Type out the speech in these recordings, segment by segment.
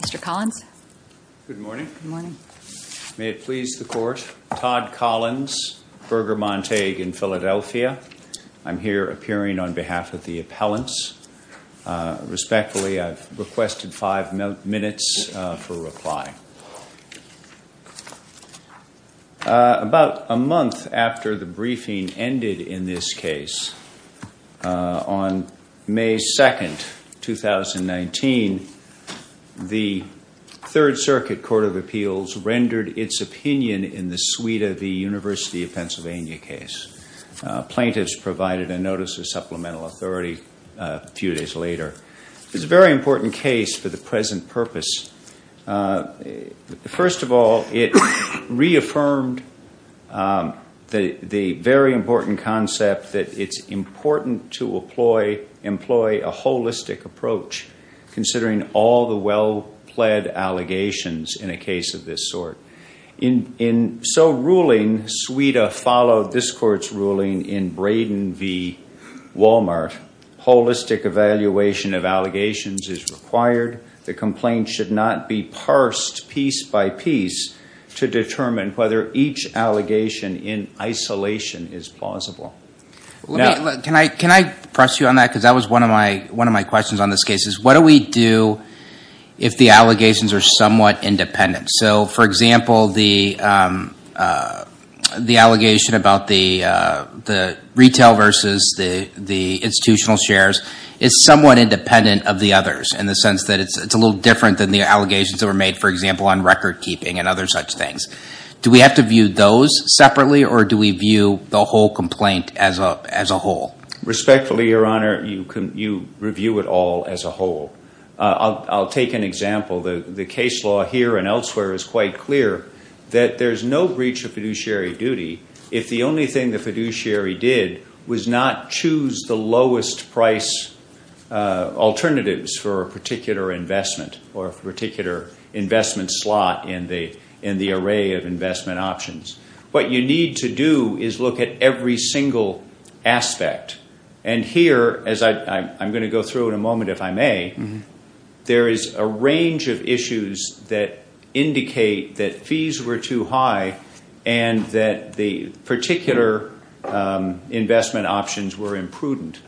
Mr. Collins. Good morning. May it please the Court. Todd Collins, Berger-Montague in Philadelphia. I'm here appearing on behalf of the appellants. Respectfully, I've requested five minutes for The Third Circuit Court of Appeals rendered its opinion in the Suida v. University of Pennsylvania case. Plaintiffs provided a notice of supplemental authority a few days later. This is a very important case for the present purpose. First of all, it reaffirmed the very important concept that it's important to employ a holistic approach considering all the well-pled allegations in a case of this sort. In so ruling, Suida followed this Court's ruling in Braden v. Walmart. Holistic evaluation of allegations is required. The complaint should not be parsed piece by piece to determine whether each allegation in isolation is plausible. Can I press you on that? Because that was one of my questions on this case is what do we do if the allegations are somewhat independent? So, for example, the allegation about the retail versus the institutional shares is somewhat independent of the others in the sense that it's a little different than the allegations that were made, for example, on record keeping and other such things. Do we have to view those separately or do we view the whole complaint as a whole? Respectfully, Your Honor, you review it all as a whole. I'll take an example. The case law here and elsewhere is quite clear that there's no breach of fiduciary duty if the only thing the fiduciary did was not choose the lowest price alternatives for a particular investment or a array of investment options. What you need to do is look at every single aspect. Here, as I'm going to go through in a moment, if I may, there is a range of issues that indicate that fees were too high and that the particular investment options were imprudent.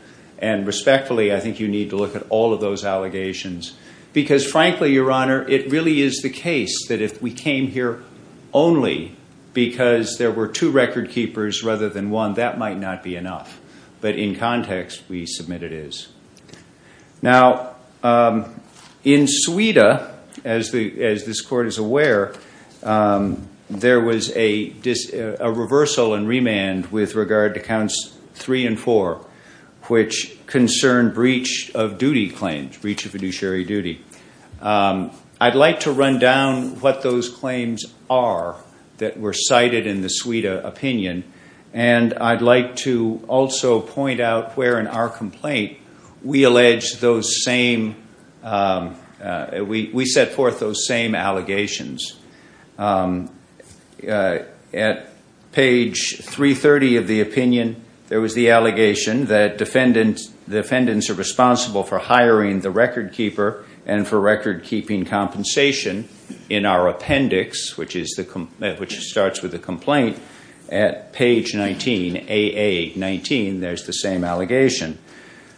Respectfully, I think you need to look at all of those allegations because, frankly, Your Honor, it really is the case that if we came here only because there were two record keepers rather than one, that might not be enough. But in context, we submit it is. Now, in Sweden, as this Court is aware, there was a reversal and remand with regard to Counts 3 and 4, which concerned breach of duty. I'd like to run down what those claims are that were cited in the Sweden opinion, and I'd like to also point out where in our complaint we set forth those same allegations. At page 330 of the opinion, there was the allegation that the defendants are responsible for hiring the record keeper and for record keeping compensation in our appendix, which starts with the complaint. At page 19, AA19, there's the same allegation.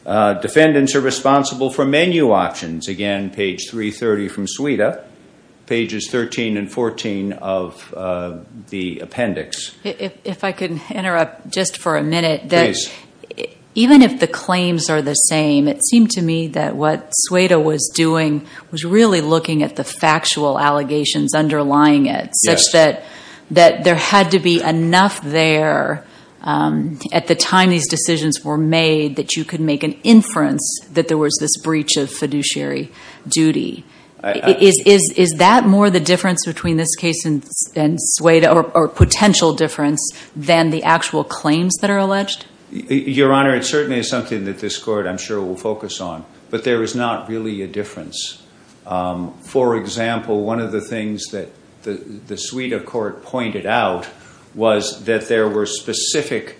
Defendants are responsible for menu options. Again, page 330 from Sweden, pages 13 and 14 of the appendix. If I could interrupt just for a minute. Please. Even if the claims are the same, it seemed to me that what Sueda was doing was really looking at the factual allegations underlying it such that there had to be enough there at the time these decisions were made that you could make an inference that there was this breach of fiduciary duty. Is that more the difference between this case and Sueda or potential difference than the actual claims that are alleged? Your Honor, it certainly is something that this court, I'm sure, will focus on, but there is not really a difference. For example, one of the things that the Sueda court pointed out was that there were specific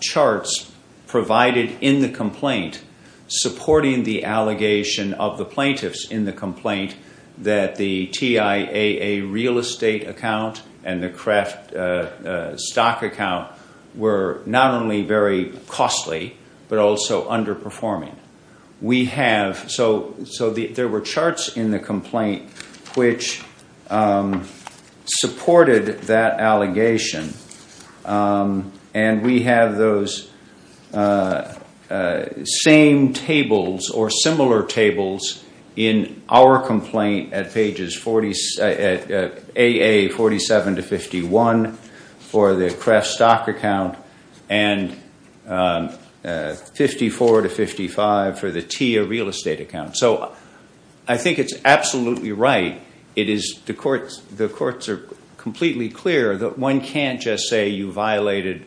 charts provided in the complaint supporting the allegation of the plaintiffs in the complaint that the TIAA real estate account and the Kraft stock account were not only very costly, but also underperforming. So there were charts in the complaint which supported that allegation, and we have those same tables or similar tables in our complaint at AA 47 to 51 for the Kraft stock account and 54 to 55 for the TIAA real estate account. So I think it's absolutely right. The courts are completely clear that one can't just say you violated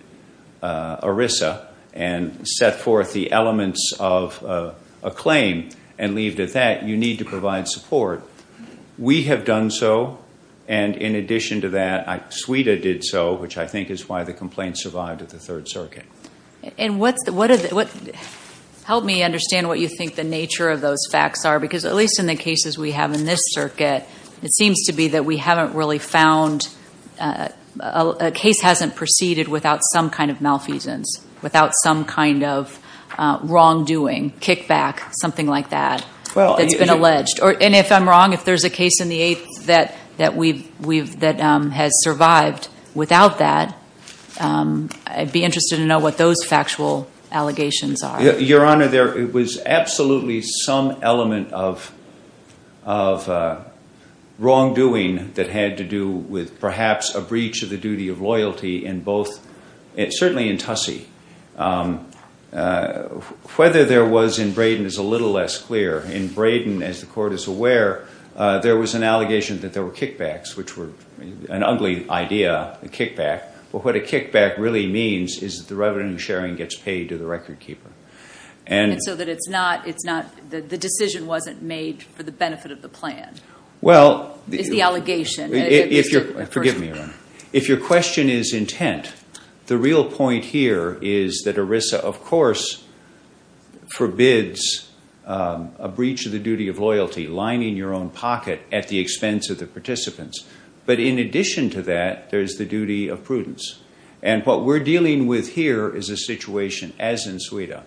ERISA and set forth the elements of a claim and leave it at that. You need to provide support. We have done so, and in addition to that, Sueda did so, which I think is why the complaint survived at the Third Circuit. Help me understand what you think the nature of those facts are, because at least in the cases we have in this circuit, it seems to be that we haven't really found, a case hasn't proceeded without some kind of malfeasance, without some kind of wrongdoing, kickback, something like that, that's been alleged. And if I'm wrong, if there's a case in the Eighth that has survived without that, I'd be interested to know what those factual allegations are. Your Honor, there was absolutely some element of wrongdoing that had to do with perhaps a breach of the duty of loyalty in both, certainly in Tussey. Whether there was in Braden is a little less clear. In Braden, as the Court is aware, there was an allegation that there were kickbacks, which were an ugly idea, a kickback. But what a kickback really means is that the revenue sharing gets paid to the record keeper. And so that it's not, the decision wasn't made for the benefit of the plan, is the allegation. Well, if your question is intent, the real point here is that ERISA, of course, forbids a breach of the duty of loyalty, lining your own pocket at the expense of the participants. But in addition to that, there's the duty of prudence. And what we're as in Sweden,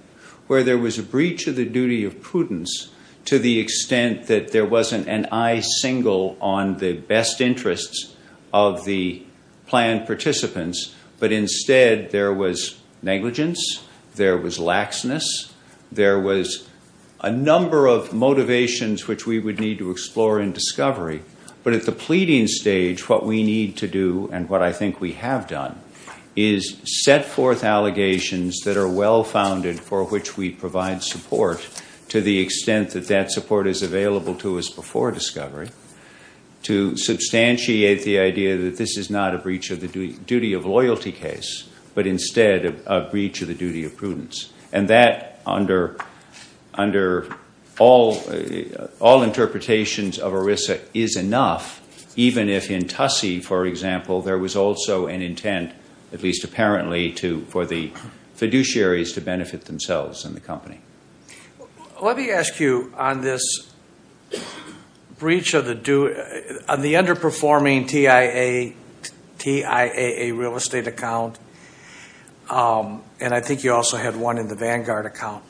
where there was a breach of the duty of prudence to the extent that there wasn't an eye single on the best interests of the plan participants, but instead there was negligence, there was laxness, there was a number of motivations which we would need to explore in discovery. But at the pleading stage, what we need to do, and what I think we have done, is set forth allegations that are well-founded for which we provide support to the extent that that support is available to us before discovery, to substantiate the idea that this is not a breach of the duty of loyalty case, but instead a breach of the duty of prudence. And that, under all interpretations of ERISA, is enough, even if in TUSSE, for example, there was also an intent, at least apparently, for the fiduciaries to benefit themselves and the company. Let me ask you, on this breach of the, on the underperforming TIAA real estate account, and I think you also had one in the Vanguard account,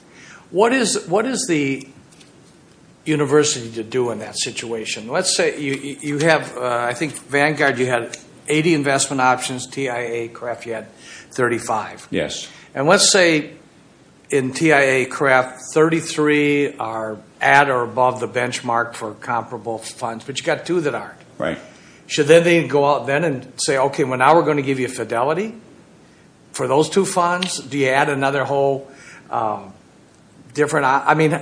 what is the university to do in that situation? Let's say you have, I think Vanguard, you had 80 investment options, TIAA, CRAF, you had 35. Yes. And let's say in TIAA, CRAF, 33 are at or above the benchmark for comparable funds, but you've got two that aren't. Right. Should then they go out then and say, okay, well, now we're going to give you fidelity for those two funds. Do you add another whole different, I mean,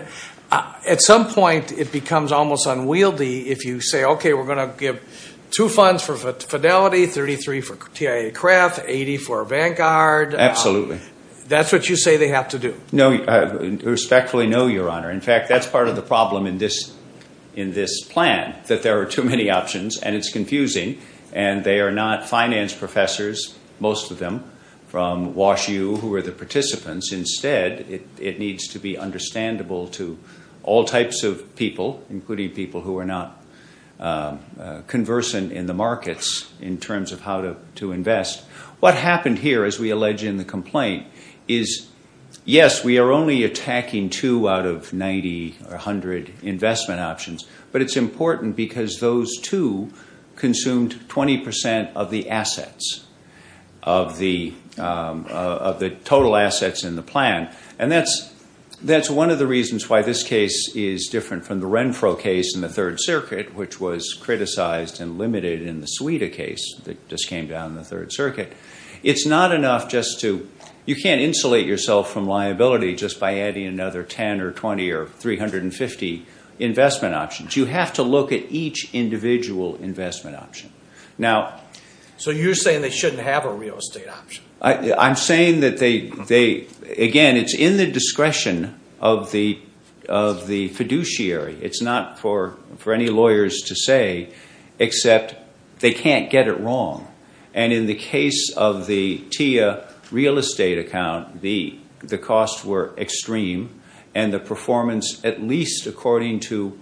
at some point it becomes almost unwieldy if you say, okay, we're going to give two funds for fidelity, 33 for TIAA, CRAF, 80 for Vanguard. Absolutely. That's what you say they have to do. No, respectfully, no, your honor. In fact, that's part of the problem in this, in this plan, that there are too many options and it's confusing and they are not finance professors, most of them from WashU who are the participants. Instead, it needs to be understandable to all types of people, including people who are not conversant in the markets in terms of how to, to invest. What happened here, as we allege in the complaint, is yes, we are only attacking two out of 90 or 100 investment options, but it's important because those two consumed 20% of the assets, of the total assets in the plan. And that's, that's one of the reasons why this case is different from the Renfro case in the third circuit, which was criticized and limited in the Suida case that just came down in the third circuit. It's not enough just to, you can't insulate yourself from liability just by adding another 10 or 20 or 350 investment options. You have to look at each individual investment option. Now, so you're saying they shouldn't have a real estate option. I'm saying that they, they, again, it's in the discretion of the, of the fiduciary. It's not for, for any lawyers to say, except they can't get it wrong. And in the case of the TIA real estate account, the, the costs were extreme and the performance, at least according to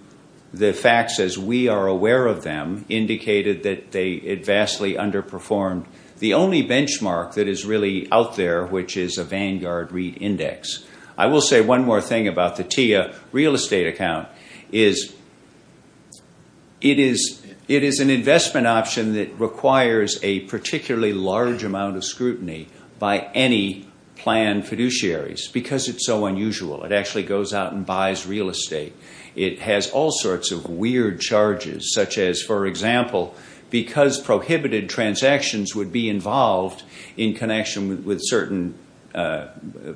the facts, as we are aware of them, indicated that they had vastly underperformed. The only benchmark that is really out there, which is a Vanguard REIT index. I will say one more thing about the TIA real estate account is it is, it is an investment option that requires a particularly large amount of scrutiny by any planned fiduciaries because it's so unusual. It actually goes out and buys real estate. It has all sorts of weird charges, such as, for example, because prohibited transactions would be involved in connection with certain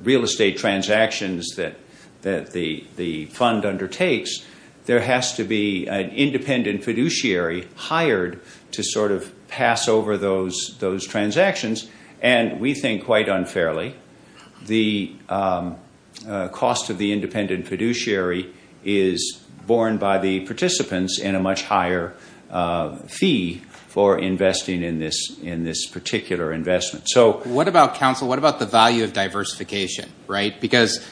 real estate transactions that, that the, the fund undertakes, there has to be an independent fiduciary hired to sort of pass over those, those transactions. And we think, quite unfairly, the cost of the independent fiduciary is borne by the participants in a much higher fee for investing in this, in this particular investment. So what about counsel? What about the value of diversification, right? Because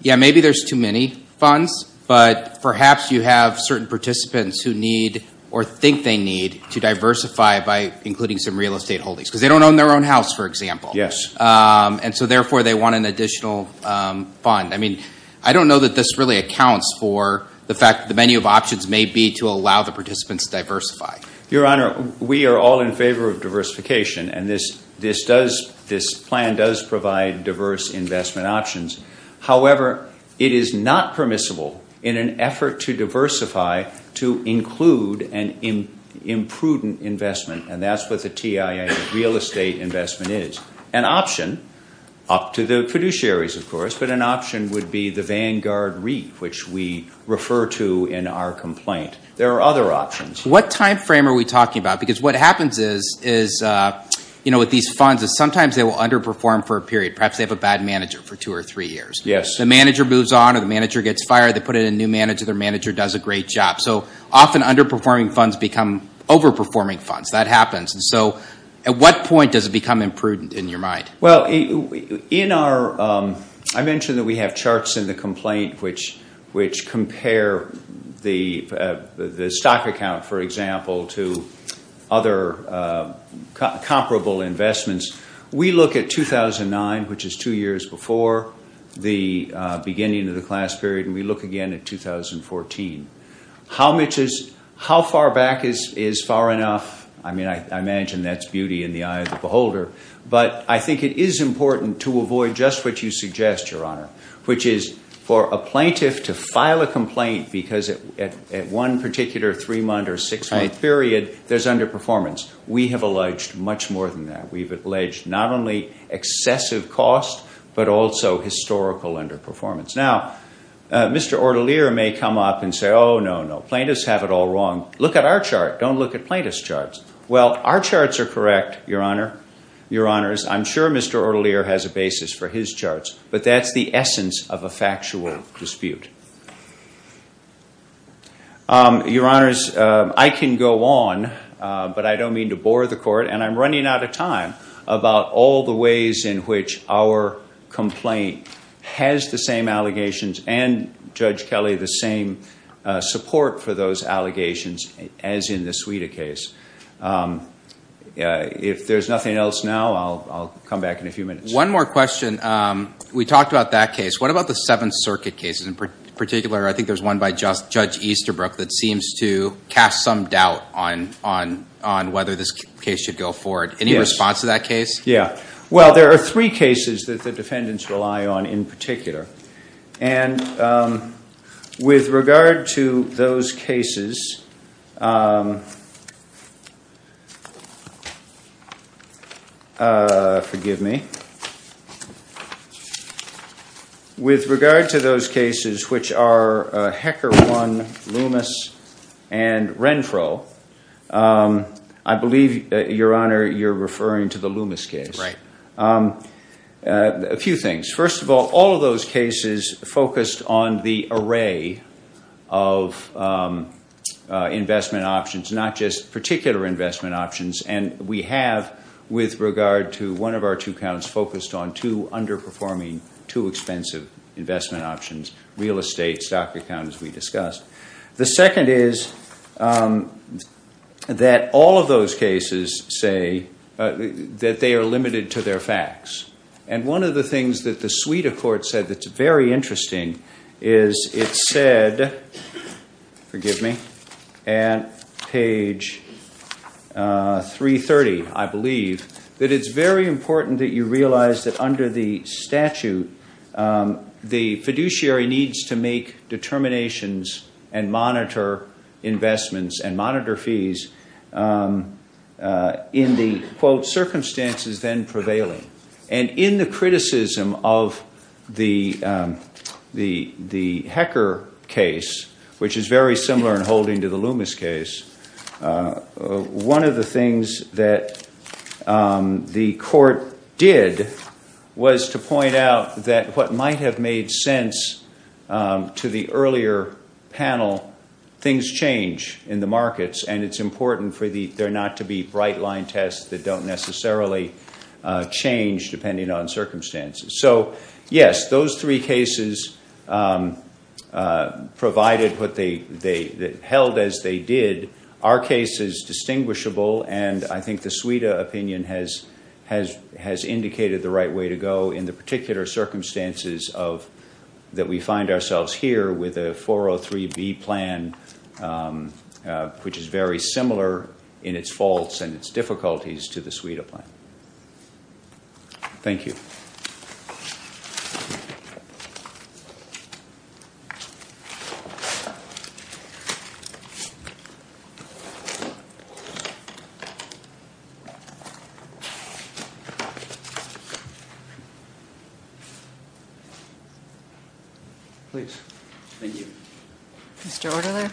yeah, maybe there's too many funds, but perhaps you have certain participants who need or think they need to diversify by including some real estate holdings because they don't own their own house, for example. Yes. And so therefore, they want an additional fund. I mean, I don't know that this really accounts for the fact that the menu of options may be to allow the participants diversify. Your Honor, we are all in favor of diversification and this, this does, this plan does provide diverse investment options. However, it is not permissible in an effort to diversify to include an imprudent investment. And that's what the TIA real estate investment is. An option, up to the fiduciaries, of course, but an option would be the Vanguard REIT, which we refer to in our complaint. There are other options. What time frame are we talking about? Because what happens is, is, you underperform for a period. Perhaps they have a bad manager for two or three years. Yes. The manager moves on or the manager gets fired. They put in a new manager. Their manager does a great job. So often underperforming funds become overperforming funds. That happens. And so at what point does it become imprudent in your mind? Well, in our, I mentioned that we have charts in the complaint which, which compare the, the stock account, for example, to other comparable investments. We look at 2009, which is two years before the beginning of the class period. And we look again at 2014. How much is, how far back is, is far enough? I mean, I imagine that's beauty in the eye of the beholder, but I think it is important to avoid just what you suggest, Your Honor, which is for a plaintiff to file a complaint because at, at, at one particular three-month or six-month period, there's underperformance. We have alleged much more than that. We've alleged not only excessive cost, but also historical underperformance. Now, Mr. Ortelier may come up and say, oh, no, no, plaintiffs have it all wrong. Look at our chart. Don't look at plaintiff's charts. Well, our charts are correct, Your Honor, Your Honors. I'm sure Mr. Ortelier has a basis for his charts, but that's the essence of a factual dispute. Your Honors, I can go on, but I don't mean to bore the court. And I'm running out of time about all the ways in which our complaint has the same allegations and Judge Kelly, the same support for those allegations as in the We talked about that case. What about the Seventh Circuit cases in particular? I think there's one by Judge Easterbrook that seems to cast some doubt on, on, on whether this case should go forward. Any response to that case? Yeah. Well, there are three cases that the defendants rely on in particular. And, um, with regard to those cases, um, uh, forgive me. With regard to those cases, which are, uh, Hecker One, Loomis, and Renfro, um, I believe, Your Honor, you're referring to the Loomis case, right? Um, uh, a few things. First of all, all of those cases focused on the array of, um, uh, investment options, not just particular investment options. And we have, with regard to one of our two counts focused on two underperforming, two expensive investment options, real estate stock account, as we discussed. The second is, um, that all of those cases say, uh, that they are limited to their facts. And one of the things that the Suita Court said that's very interesting is it said, forgive me, at page, uh, 330, I believe, that it's very important that you realize that under the and monitor fees, um, uh, in the quote, circumstances then prevailing. And in the criticism of the, um, the, the Hecker case, which is very similar in holding to the Loomis case, uh, uh, one of the things that, um, the court did was to point out that what might have made sense, um, to the earlier panel, things change in the markets and it's important for the, there not to be bright line tests that don't necessarily, uh, change depending on circumstances. So yes, those three cases, um, uh, provided what they, they, that held as they did, our case is distinguishable. And I think the Suita opinion has, has, has indicated the right way to go in the particular circumstances of, that we find ourselves here with a 403B plan, um, uh, which is very similar in its faults and its difficulties to the Suita plan. Thank you. Please. Thank you. Mr. Ortelier.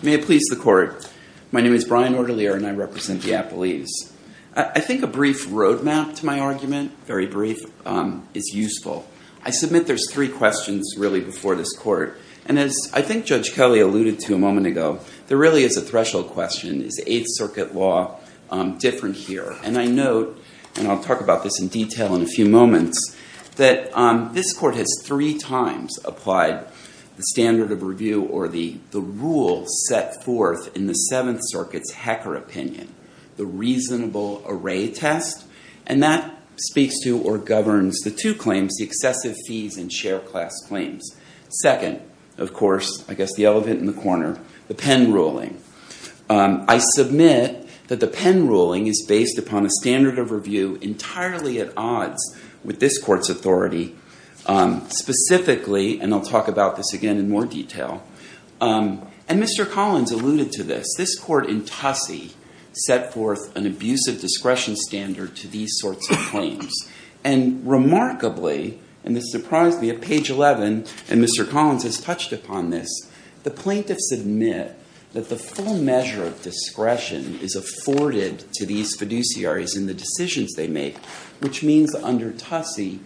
May it please the court. My name is Brian Ortelier and I represent Minneapolis. I think a brief roadmap to my argument, very brief, um, is useful. I submit, there's three questions really before this court. And as I think judge Kelly alluded to a moment ago, there really is a threshold question is eighth circuit law, um, different here. And I note, and I'll talk about this in detail in a few moments that, um, this court has three times applied the standard of review or the, the rule set forth in the seventh circuits, HECR opinion, the reasonable array test. And that speaks to, or governs the two claims, the excessive fees and share class claims. Second, of course, I guess the elephant in the corner, the pen ruling. Um, I submit that the pen ruling is based upon a standard of review entirely at I'll talk about this again in more detail. Um, and Mr. Collins alluded to this, this court in Tussie set forth an abusive discretion standard to these sorts of claims. And remarkably, and this surprised me at page 11 and Mr. Collins has touched upon this. The plaintiff submit that the full measure of discretion is afforded to these fiduciaries in the decisions they make, which means under Tussie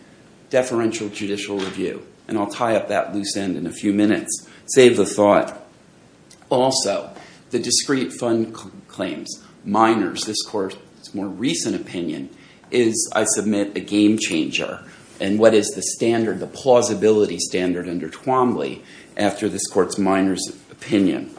deferential judicial review. And I'll tie up that loose end in a few minutes, save the thought. Also the discrete fund claims, minors, this court's more recent opinion is I submit a game changer. And what is the standard, the plausibility standard under Twombly after this court's minors opinion.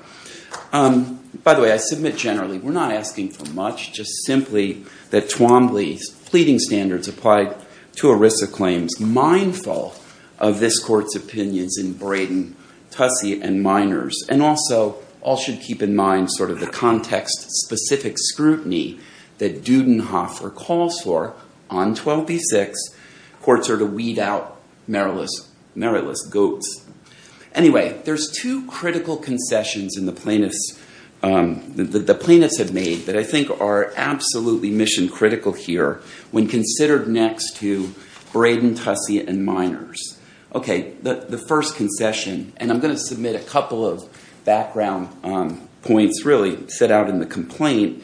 Um, by the way, I submit generally, we're not asking for much, just simply that Twombly's pleading standards applied to ERISA claims mindful of this court's opinions in Braden, Tussie and minors. And also all should keep in mind sort of the context specific scrutiny that Dudenhofer calls for on 12B6. Courts are to weed out Maryland's goats. Anyway, there's two critical concessions in the plaintiffs, um, that the plaintiffs have made, that I think are absolutely mission critical here when considered next to Braden, Tussie and minors. Okay, the first concession, and I'm going to submit a couple of background, um, points really set out in the complaint.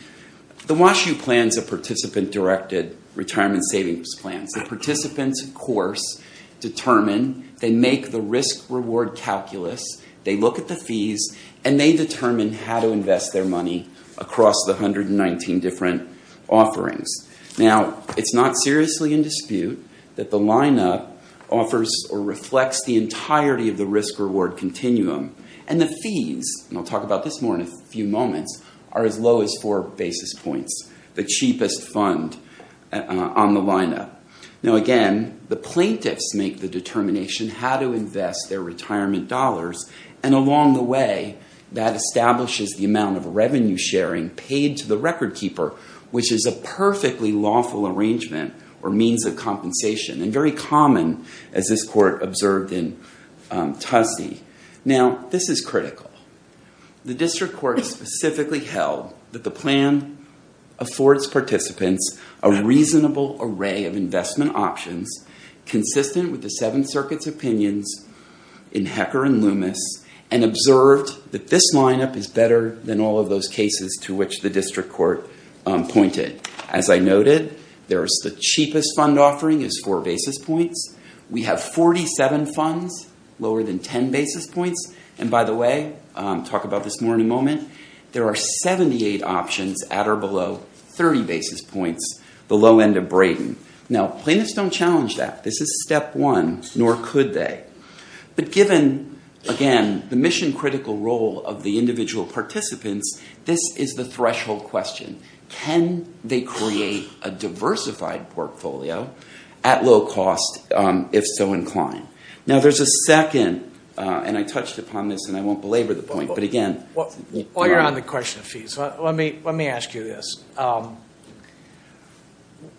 The Wash U plans a participant directed retirement savings plans. The participants of course determine, they make the risk reward calculus, they look at the fees and they determine how to invest their money across the 119 different offerings. Now, it's not seriously in dispute that the lineup offers or reflects the entirety of the risk reward continuum and the fees, and I'll talk about this more in a few moments, are as low as four basis points, the cheapest fund on the lineup. Now again, the plaintiffs make the determination how to invest their retirement dollars, and along the way that establishes the amount of revenue sharing paid to the record keeper, which is a perfectly lawful arrangement or means of compensation, and very common as this court observed in, um, Tussie. Now, this is critical. The district court specifically held that the plan affords participants a reasonable array of investment options consistent with the Seventh Circuit's opinions in Hecker and Loomis, and observed that this lineup is better than all of those cases to which the district court, um, pointed. As I noted, there's the cheapest fund offering is four basis points. We have 47 funds lower than 10 basis points, and by the way, um, talk about this more in a moment, there are 78 options at or below 30 Brayden. Now, plaintiffs don't challenge that. This is step one, nor could they, but given, again, the mission critical role of the individual participants, this is the threshold question. Can they create a diversified portfolio at low cost, um, if so inclined? Now, there's a second, uh, and I touched upon this and I won't belabor the point, but again, while you're on the question of fees, let me, let me ask you this. Um,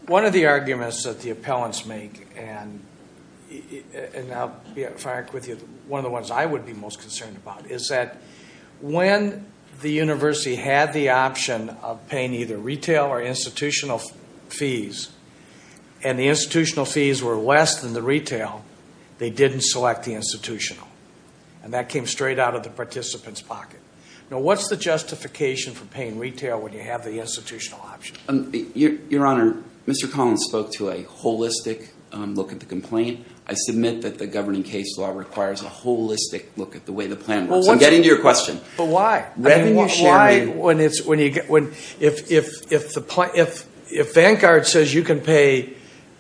one of the arguments that the appellants make, and I'll be frank with you, one of the ones I would be most concerned about is that when the university had the option of paying either retail or institutional fees, and the institutional fees were less than the retail, they didn't select the institutional, and that came straight out of the participant's pocket. Now, what's the justification for paying retail when you have the institutional option? Um, your, your honor, Mr. Collins spoke to a holistic, um, look at the complaint. I submit that the governing case law requires a holistic look at the way the plan works. I'm getting to your question. But why? Why when it's, when you get, when, if, if, if the plan, if, if Vanguard says you can pay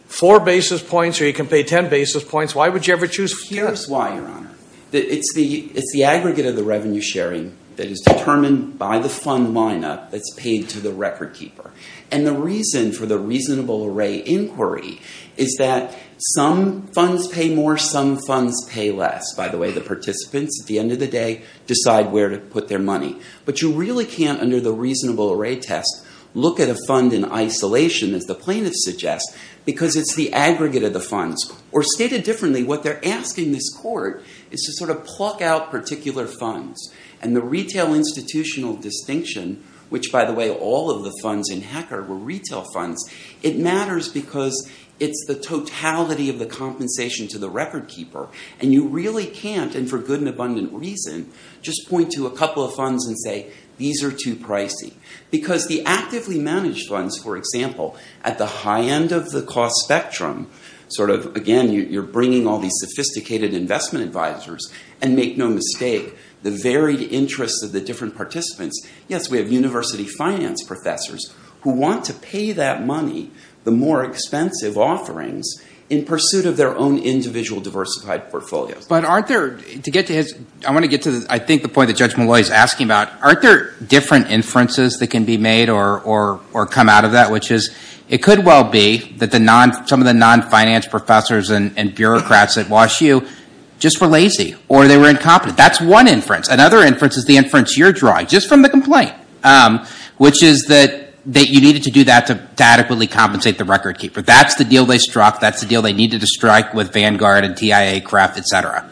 four basis points or you can pay 10 basis points, why would you ever choose fewer? Here's why, your honor. It's the, it's the aggregate of the revenue sharing that is determined by the fund lineup that's paid to the record keeper. And the reason for the reasonable array inquiry is that some funds pay more, some funds pay less. By the way, the participants at the end of the day decide where to put their money. But you really can't, under the reasonable array test, look at a fund in isolation as the plaintiff suggests, because it's the aggregate of the funds or stated differently. What they're asking this court is to sort of pluck out particular funds and the retail institutional distinction, which by the way, all of the funds in HECR were retail funds. It matters because it's the totality of the compensation to the record keeper. And you really can't, and for good and abundant reason, just point to a couple of funds and say, these are too pricey. Because the actively managed funds, for example, at the high end of the cost spectrum, sort of, again, you're bringing all these sophisticated investment advisors, and make no mistake, the varied interests of the different participants, yes, we have university finance professors who want to pay that money, the more expensive offerings, in pursuit of their own individual diversified portfolios. But aren't there, to get to his, I want to get to, I think, the point that Judge Malloy is asking about, aren't there different inferences that can be made or come out of that, which is, it could well be that some of the non-finance professors and bureaucrats at Wash U just were lazy, or they were incompetent. That's one inference. Another inference is the inference you're drawing, just from the complaint, which is that you needed to do that to adequately compensate the record keeper. That's the deal they struck, that's the deal they needed to strike with Vanguard and TIA, Kraft, et cetera.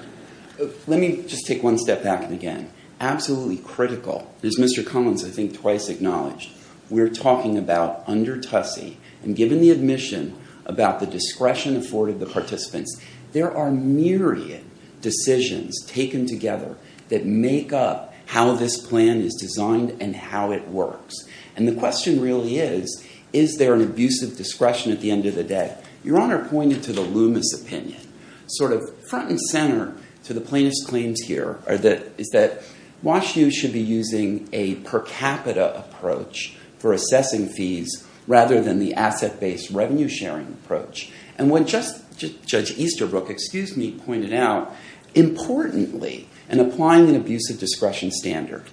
Let me just take one step back, and again, absolutely critical. As Mr. Cummins, I think, twice acknowledged, we're talking about under TUSSE, and given the admission about the discretion afforded the participants, there are myriad decisions taken together that make up how this plan is designed and how it works. And the question really is, is there an abusive discretion at the end of the day? Your Honor pointed to the opinion, sort of front and center to the plaintiff's claims here, is that Wash U should be using a per capita approach for assessing fees, rather than the asset-based revenue sharing approach. And what Judge Easterbrook, excuse me, pointed out, importantly, in applying an abusive discretion standard,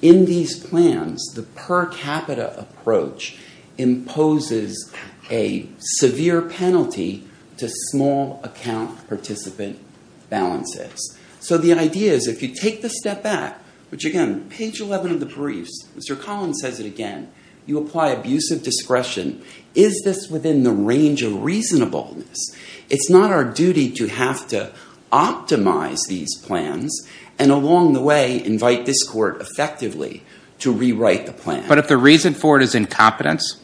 in these plans, the per capita approach imposes a severe penalty to small account participant balances. So the idea is, if you take the step back, which again, page 11 of the briefs, Mr. Collins says it again, you apply abusive discretion, is this within the range of reasonableness? It's not our duty to have to optimize these plans and along the way, invite this court effectively to rewrite the plan. But if the reason for it is incompetence,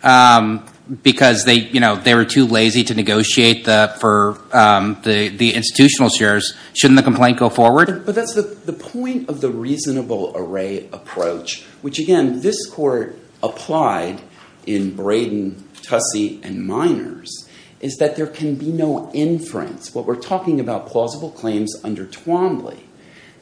because they were too lazy to negotiate for the institutional shares, shouldn't the complaint go forward? But that's the point of the reasonable array approach, which again, this court applied in Braden, TUSSE, and Miners, is that there can be no inference. What we're talking about, plausible claims under Twombly,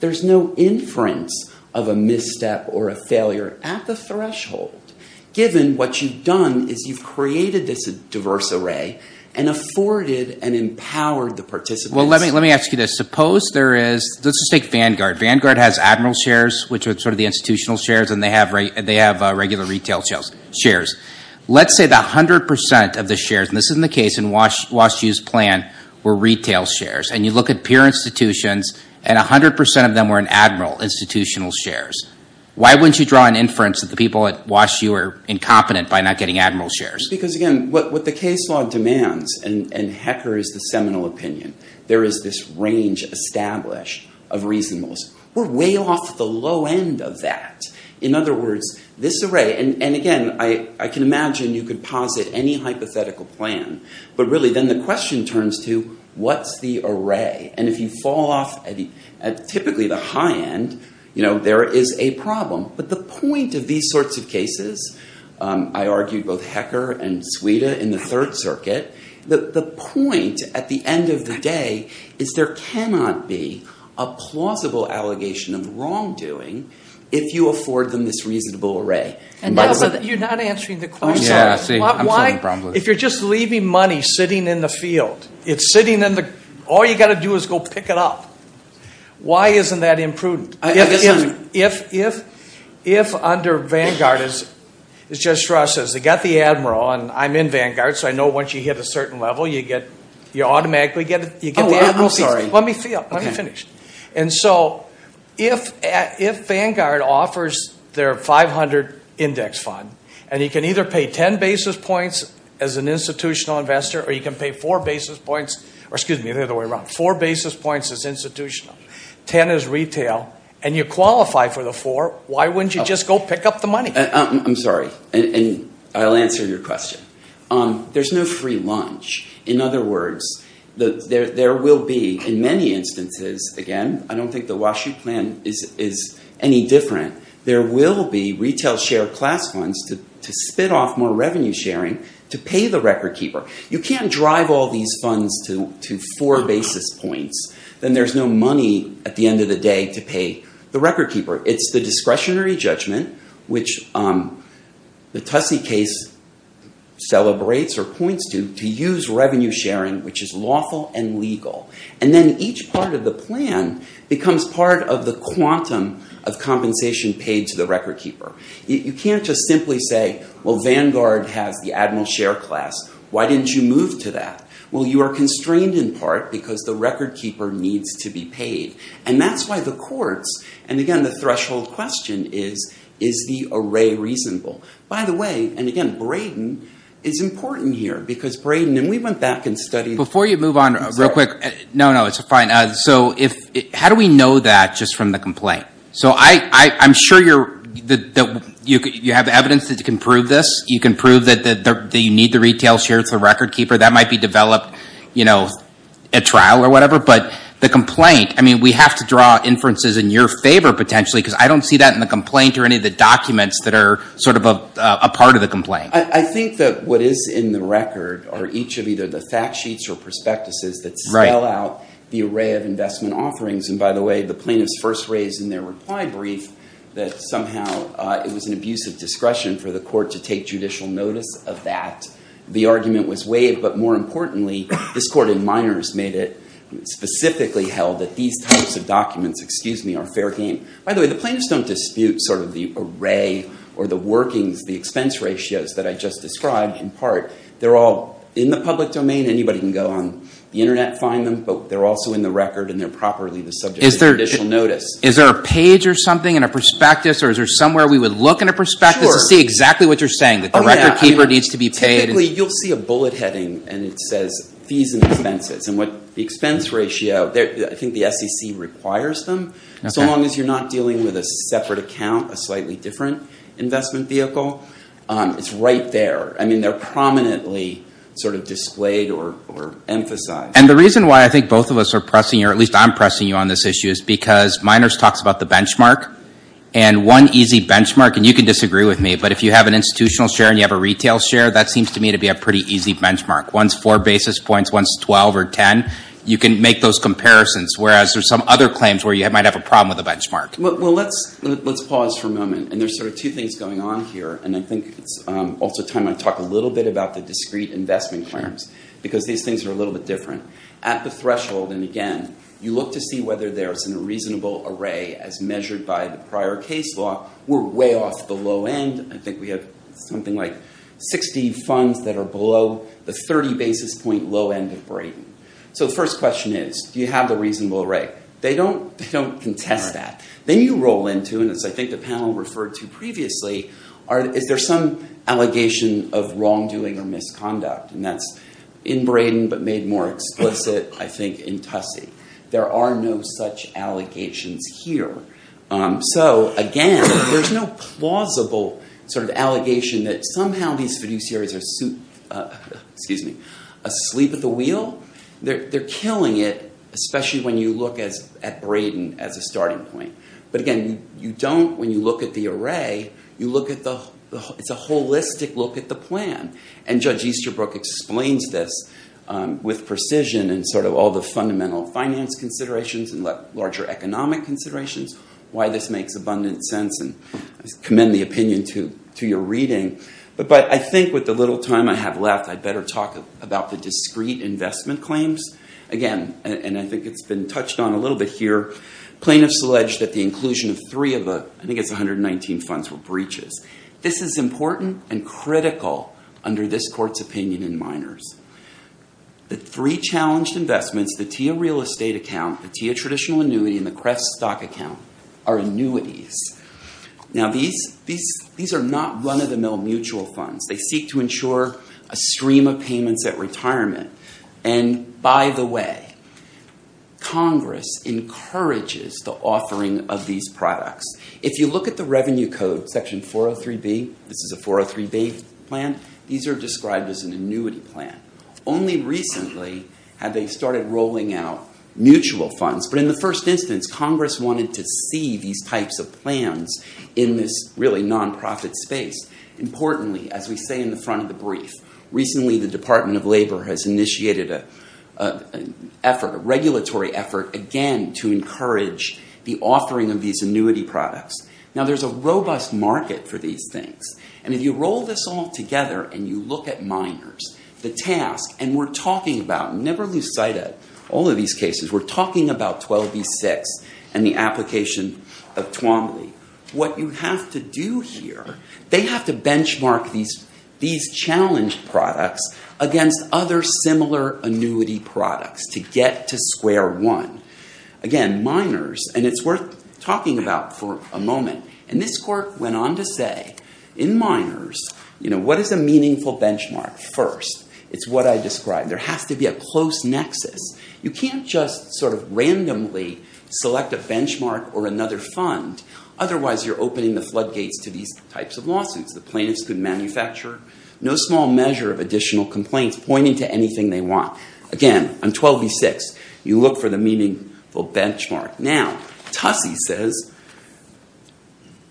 there's no inference of a misstep or a failure at the threshold, given what you've done is you've created this diverse array and afforded and empowered the participants. Well, let me ask you this. Suppose there is, let's just take Vanguard. Vanguard has admiral shares, which are sort of the institutional shares, and they have regular retail shares. Let's say that 100% of the shares, and this isn't the case in Wash U's plan, were retail shares, and you look at peer institutions, and 100% of them were in admiral institutional shares. Why wouldn't you draw an inference that the people at Wash U are incompetent by not getting admiral shares? Because again, what the case law demands, and Hecker is the seminal opinion, there is this range established of reasonableness. We're way off the low end of that. In other words, this array, and again, I can imagine you could posit any hypothetical plan, but really then the question turns to what's the array? And if you fall off at typically the high end, there is a problem. But the point of these sorts of cases, I argued both Hecker and Suida in the third circuit, the point at the end of the day is there cannot be a plausible allegation of the misreasonable array. You're not answering the question. If you're just leaving money sitting in the field, all you've got to do is go pick it up. Why isn't that imprudent? If under Vanguard, as Judge Strauss says, they've got the admiral, and I'm in Vanguard, so I know once you hit a 500 index fund, and you can either pay 10 basis points as an institutional investor, or you can pay four basis points, or excuse me, the other way around, four basis points as institutional, 10 as retail, and you qualify for the four, why wouldn't you just go pick up the money? I'm sorry, and I'll answer your question. There's no free lunch. In other words, there will be, in many instances, again, I don't think the Wash U plan is any different, there will be retail share class funds to spit off more revenue sharing to pay the record keeper. You can't drive all these funds to four basis points. Then there's no money at the end of the day to pay the record keeper. It's the discretionary judgment, which the Tussey case celebrates or points to, to use revenue sharing, which is lawful and legal. Then each part of the plan becomes part of the quantum of compensation paid to the record keeper. You can't just simply say, well, Vanguard has the admiral share class. Why didn't you move to that? Well, you are constrained in part because the record keeper needs to be paid. That's why the courts, and again, the threshold question is, is the array reasonable? By the way, and again, Brayden is important here, because Brayden, and we went back and studied- Before you move on real quick, no, no, it's fine. How do we know that just from the complaint? So I'm sure you have evidence that you can prove this. You can prove that you need the retail share to the record keeper. That might be developed at trial or whatever, but the complaint, I mean, we have to draw inferences in your favor, potentially, because I don't see that in the complaint or any of the documents that are sort of a part of the complaint. I think that what is in the record are each of either the fact sheets or prospectuses that sell out the array of investment offerings. And by the way, the plaintiffs first raised in their reply brief that somehow it was an abuse of discretion for the court to take judicial notice of that. The argument was waived, but more importantly, this court in minors made it specifically held that these types of documents, excuse me, are fair game. By the way, the plaintiffs don't dispute sort of the array or the workings, the expense ratios that I just described in part. They're all in the public domain. Anybody can go on the internet and find them, but they're also in the record and they're properly the subject of judicial notice. Is there a page or something in a prospectus or is there somewhere we would look in a prospectus to see exactly what you're saying, that the record keeper needs to be paid? Typically, you'll see a bullet heading and it says fees and expenses. And what the expense ratio, I think the SEC requires them. So long as you're not dealing with a separate account, a slightly different investment vehicle, it's right there. I mean, they're prominently sort of displayed or emphasized. And the reason why I think both of us are pressing, or at least I'm pressing you on this issue, is because minors talks about the benchmark. And one easy benchmark, and you can disagree with me, but if you have an institutional share and you have a retail share, that seems to me to be a pretty easy benchmark. One's four basis points, one's 12 or 10. You can make those comparisons, whereas there's some other claims where you might have a problem with the benchmark. Well, let's pause for a moment. And there's sort of two things going on here. And I think it's also time I talk a little bit about the discrete investment claims, because these things are a little bit different. At the threshold, and again, you look to see whether there's a reasonable array as measured by the prior case law. We're way off the low end. I think we have something like 60 funds that are below the 30 basis point of Braden. So the first question is, do you have the reasonable array? They don't contest that. Then you roll into, and as I think the panel referred to previously, is there some allegation of wrongdoing or misconduct? And that's in Braden, but made more explicit, I think, in Tussey. There are no such allegations here. So again, there's no plausible sort of allegation that somehow these fiduciaries are asleep at the wheel. They're killing it, especially when you look at Braden as a starting point. But again, when you look at the array, it's a holistic look at the plan. And Judge Easterbrook explains this with precision and sort of all the fundamental finance considerations and larger economic considerations, why this makes abundant sense. I commend the opinion to your reading. But I think with the little time I have left, I'd better talk about the discrete investment claims. Again, and I think it's been touched on a little bit here, plaintiffs allege that the inclusion of three of the, I think it's 119 funds, were breaches. This is important and critical under this court's opinion in minors. The three challenged investments, the TIA real estate account, the TIA traditional annuity, and the CREF stock account are annuities. Now, these are not run-of-the-mill mutual funds. They seek to ensure a stream of payments at retirement. And by the way, Congress encourages the offering of these products. If you look at the revenue code, Section 403B, this is a 403B plan, these are described as an annuity plan. Only recently have they started rolling out mutual funds. But in the first instance, Congress wanted to see these types of plans in this really nonprofit space. Importantly, as we say in the front of the brief, recently, the Department of Labor has initiated an effort, a regulatory effort, again, to encourage the offering of these annuity products. Now, there's a robust market for these things. And if you roll this all together and you look at minors, the task, and we're talking about, never lose sight of that, all of these cases, we're talking about 12B6 and the application of Tuomaly. What you have to do here, they have to benchmark these challenged products against other similar annuity products to get to square one. Again, minors, and it's worth talking about for a moment, and this court went on to say, in minors, what is a meaningful benchmark? First, it's what I can't just sort of randomly select a benchmark or another fund. Otherwise, you're opening the floodgates to these types of lawsuits. The plaintiffs could manufacture no small measure of additional complaints pointing to anything they want. Again, on 12B6, you look for the meaningful benchmark. Now, Tussey says,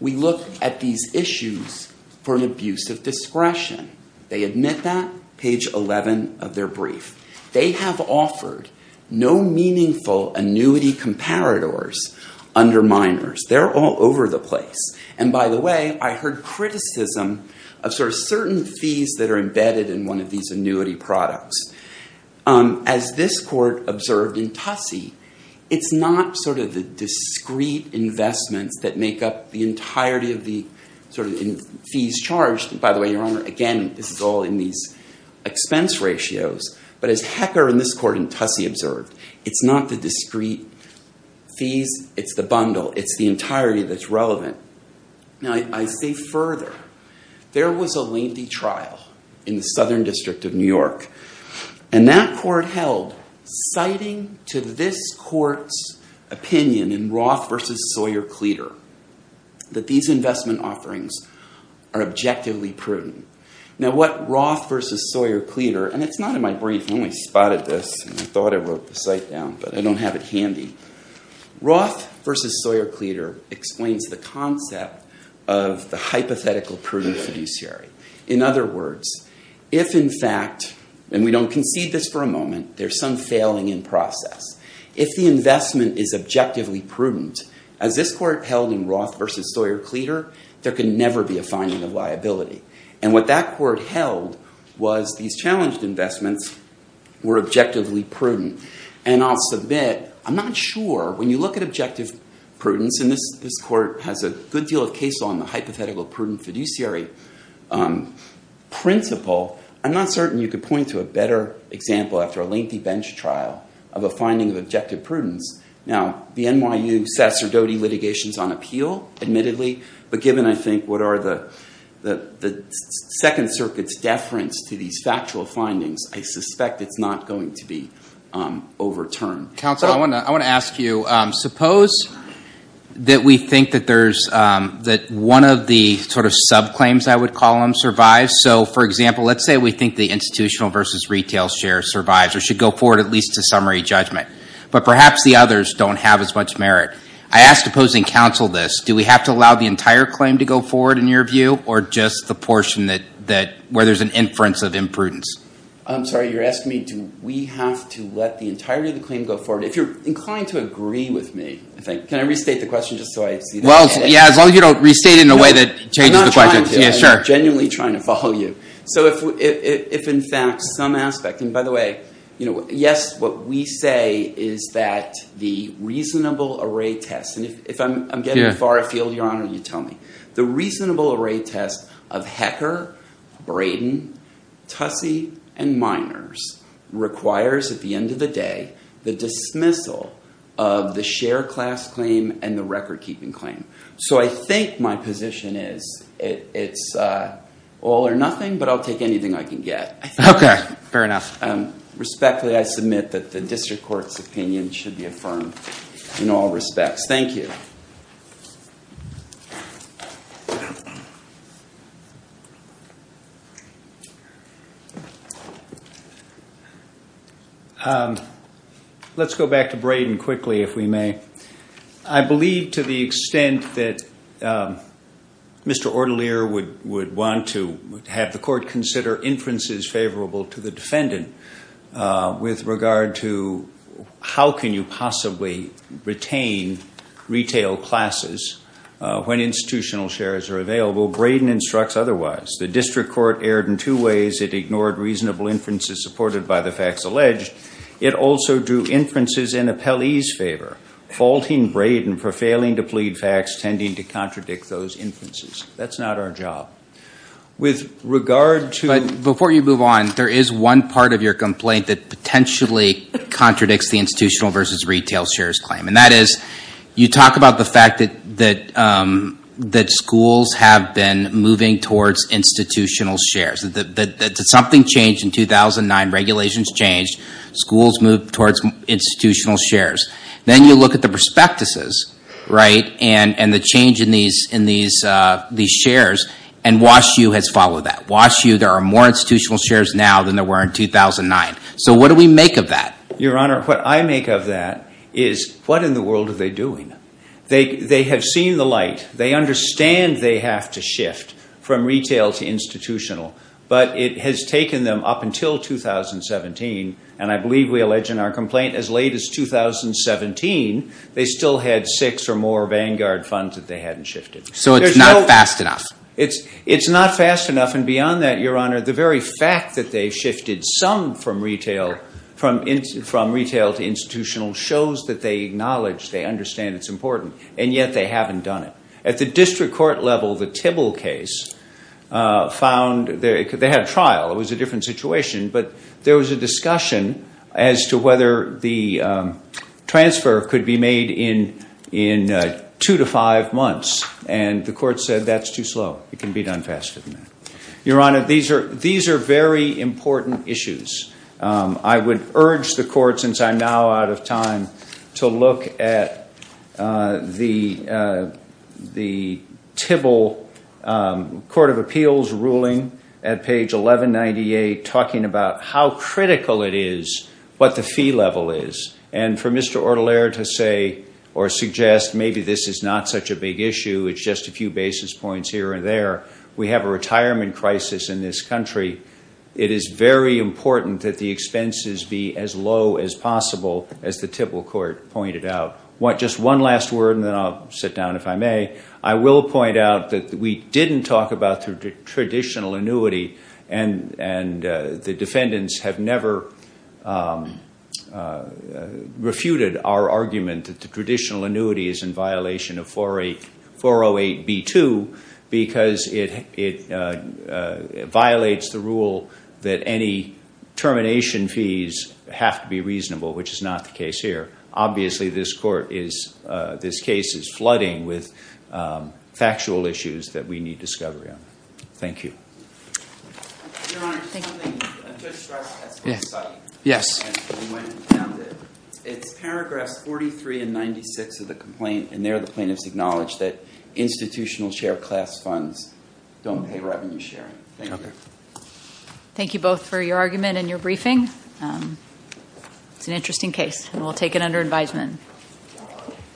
we look at these issues for an abuse of discretion. They admit that, page 11 of their brief. They have offered no meaningful annuity comparators under minors. They're all over the place. And by the way, I heard criticism of sort of certain fees that are embedded in one of these annuity products. As this court observed in Tussey, it's not sort of the discrete investments that make up the entirety of the sort of fees charged. By the way, Your Honor, again, this is all in these expense ratios. But as Hecker in this court in Tussey observed, it's not the discrete fees, it's the bundle. It's the entirety that's relevant. Now, I say further, there was a lengthy trial in the Southern District of New York, and that court held, citing to this court's opinion in Roth versus Sawyer-Cleter, that these investment offerings are objectively prudent. Now, what Roth versus Sawyer-Cleter, and it's not in my brief. I only spotted this, and I thought I wrote the site down, but I don't have it handy. Roth versus Sawyer-Cleter explains the concept of the hypothetical prudent fiduciary. In other words, if in fact, and we don't concede this for a moment, there's some Roth versus Sawyer-Cleter, there can never be a finding of liability. And what that court held was these challenged investments were objectively prudent. And I'll submit, I'm not sure, when you look at objective prudence, and this court has a good deal of case on the hypothetical prudent fiduciary principle, I'm not certain you could point to a better example after a lengthy bench trial of a finding of objective prudence. Now, the NYU Sasserdoti litigation's on appeal, admittedly, but given, I think, what are the Second Circuit's deference to these factual findings, I suspect it's not going to be overturned. Counsel, I want to ask you, suppose that we think that there's, that one of the sort of subclaims, I would call them, survives. So, for example, let's say we think the institutional versus retail share survives, or should go forward at least to summary judgment. But perhaps the others don't have as much merit. I ask opposing counsel this, do we have to allow the entire claim to go forward, in your view, or just the portion where there's an inference of imprudence? I'm sorry, you're asking me, do we have to let the entirety of the claim go forward? If you're inclined to agree with me, I think, can I restate the question just so I see that? Well, yeah, as long as you don't restate it in a way that changes the question. I'm not trying to, I'm genuinely trying to follow you. So, if in fact some aspect, and by the way, yes, what we say is that the reasonable array test, and if I'm getting far afield, Your Honor, you tell me. The reasonable array test of Hecker, Braden, Tussey, and Miners requires, at the end of the day, the dismissal of the share class claim and the record keeping claim. So, I think my position is, it's all or nothing, but I'll take anything I can get. Fair enough. Respectfully, I submit that the district court's opinion should be affirmed in all respects. Thank you. Let's go back to Braden quickly, if we may. I believe to the extent that Mr. Ortelier would want to have the court consider inferences favorable to the defendant with regard to how can you possibly retain retail classes when institutional shares are available, Braden instructs otherwise. The district court erred in two ways. It ignored reasonable inferences supported by the facts alleged. It also drew inferences in Appellee's case. That's not our job. Before you move on, there is one part of your complaint that potentially contradicts the institutional versus retail shares claim. That is, you talk about the fact that schools have been moving towards institutional shares. Something changed in 2009. Regulations changed. Schools moved towards institutional shares. Then you look at the prospectuses and the change in these shares, and Wash U has followed that. Wash U, there are more institutional shares now than there were in 2009. So what do we make of that? Your Honor, what I make of that is, what in the world are they doing? They have seen the light. They understand they have to shift from retail to institutional, but it has taken them up until 2017, and I believe we allege in our complaint as late as 2017, they still had six or more Vanguard funds that they hadn't shifted. So it's not fast enough. It's not fast enough. And beyond that, Your Honor, the very fact that they shifted some from retail to institutional shows that they acknowledge, they understand it's important, and yet they haven't done it. At the district court level, the Tibble case found, they had a trial. It was a different situation, but there was a discussion as to whether the transfer could be made in two to five months, and the court said that's too slow. It can be done faster than that. Your Honor, these are very important issues. I would urge the court, since I'm now out of time, to look at the Tibble Court of Appeals ruling at page 1198, talking about how critical it is, what the fee level is, and for Mr. Ortolero to say or suggest maybe this is not such a big issue. It's just a few basis points here and there. We have a retirement crisis in this country. It is very important that the expenses be as low as possible, as the Tibble Court pointed out. Just one last word, and then I'll sit down if I may. I will point out that we didn't talk about the traditional annuity, and the defendants have never refuted our argument that the traditional annuity is in violation of 408B2 because it violates the rule that any termination fees have to be reasonable, which is not the case here. Obviously, this case is flooding with factual issues that we need discovery on. Thank you. Your Honor, just something to stress at this site, and when we found it, it's paragraphs 43 and 96 of the complaint, and there the plaintiff's acknowledged that institutional share class funds don't pay revenue sharing. Thank you. Thank you both for your argument and your briefing. It's an interesting case, and we'll take it under advisement.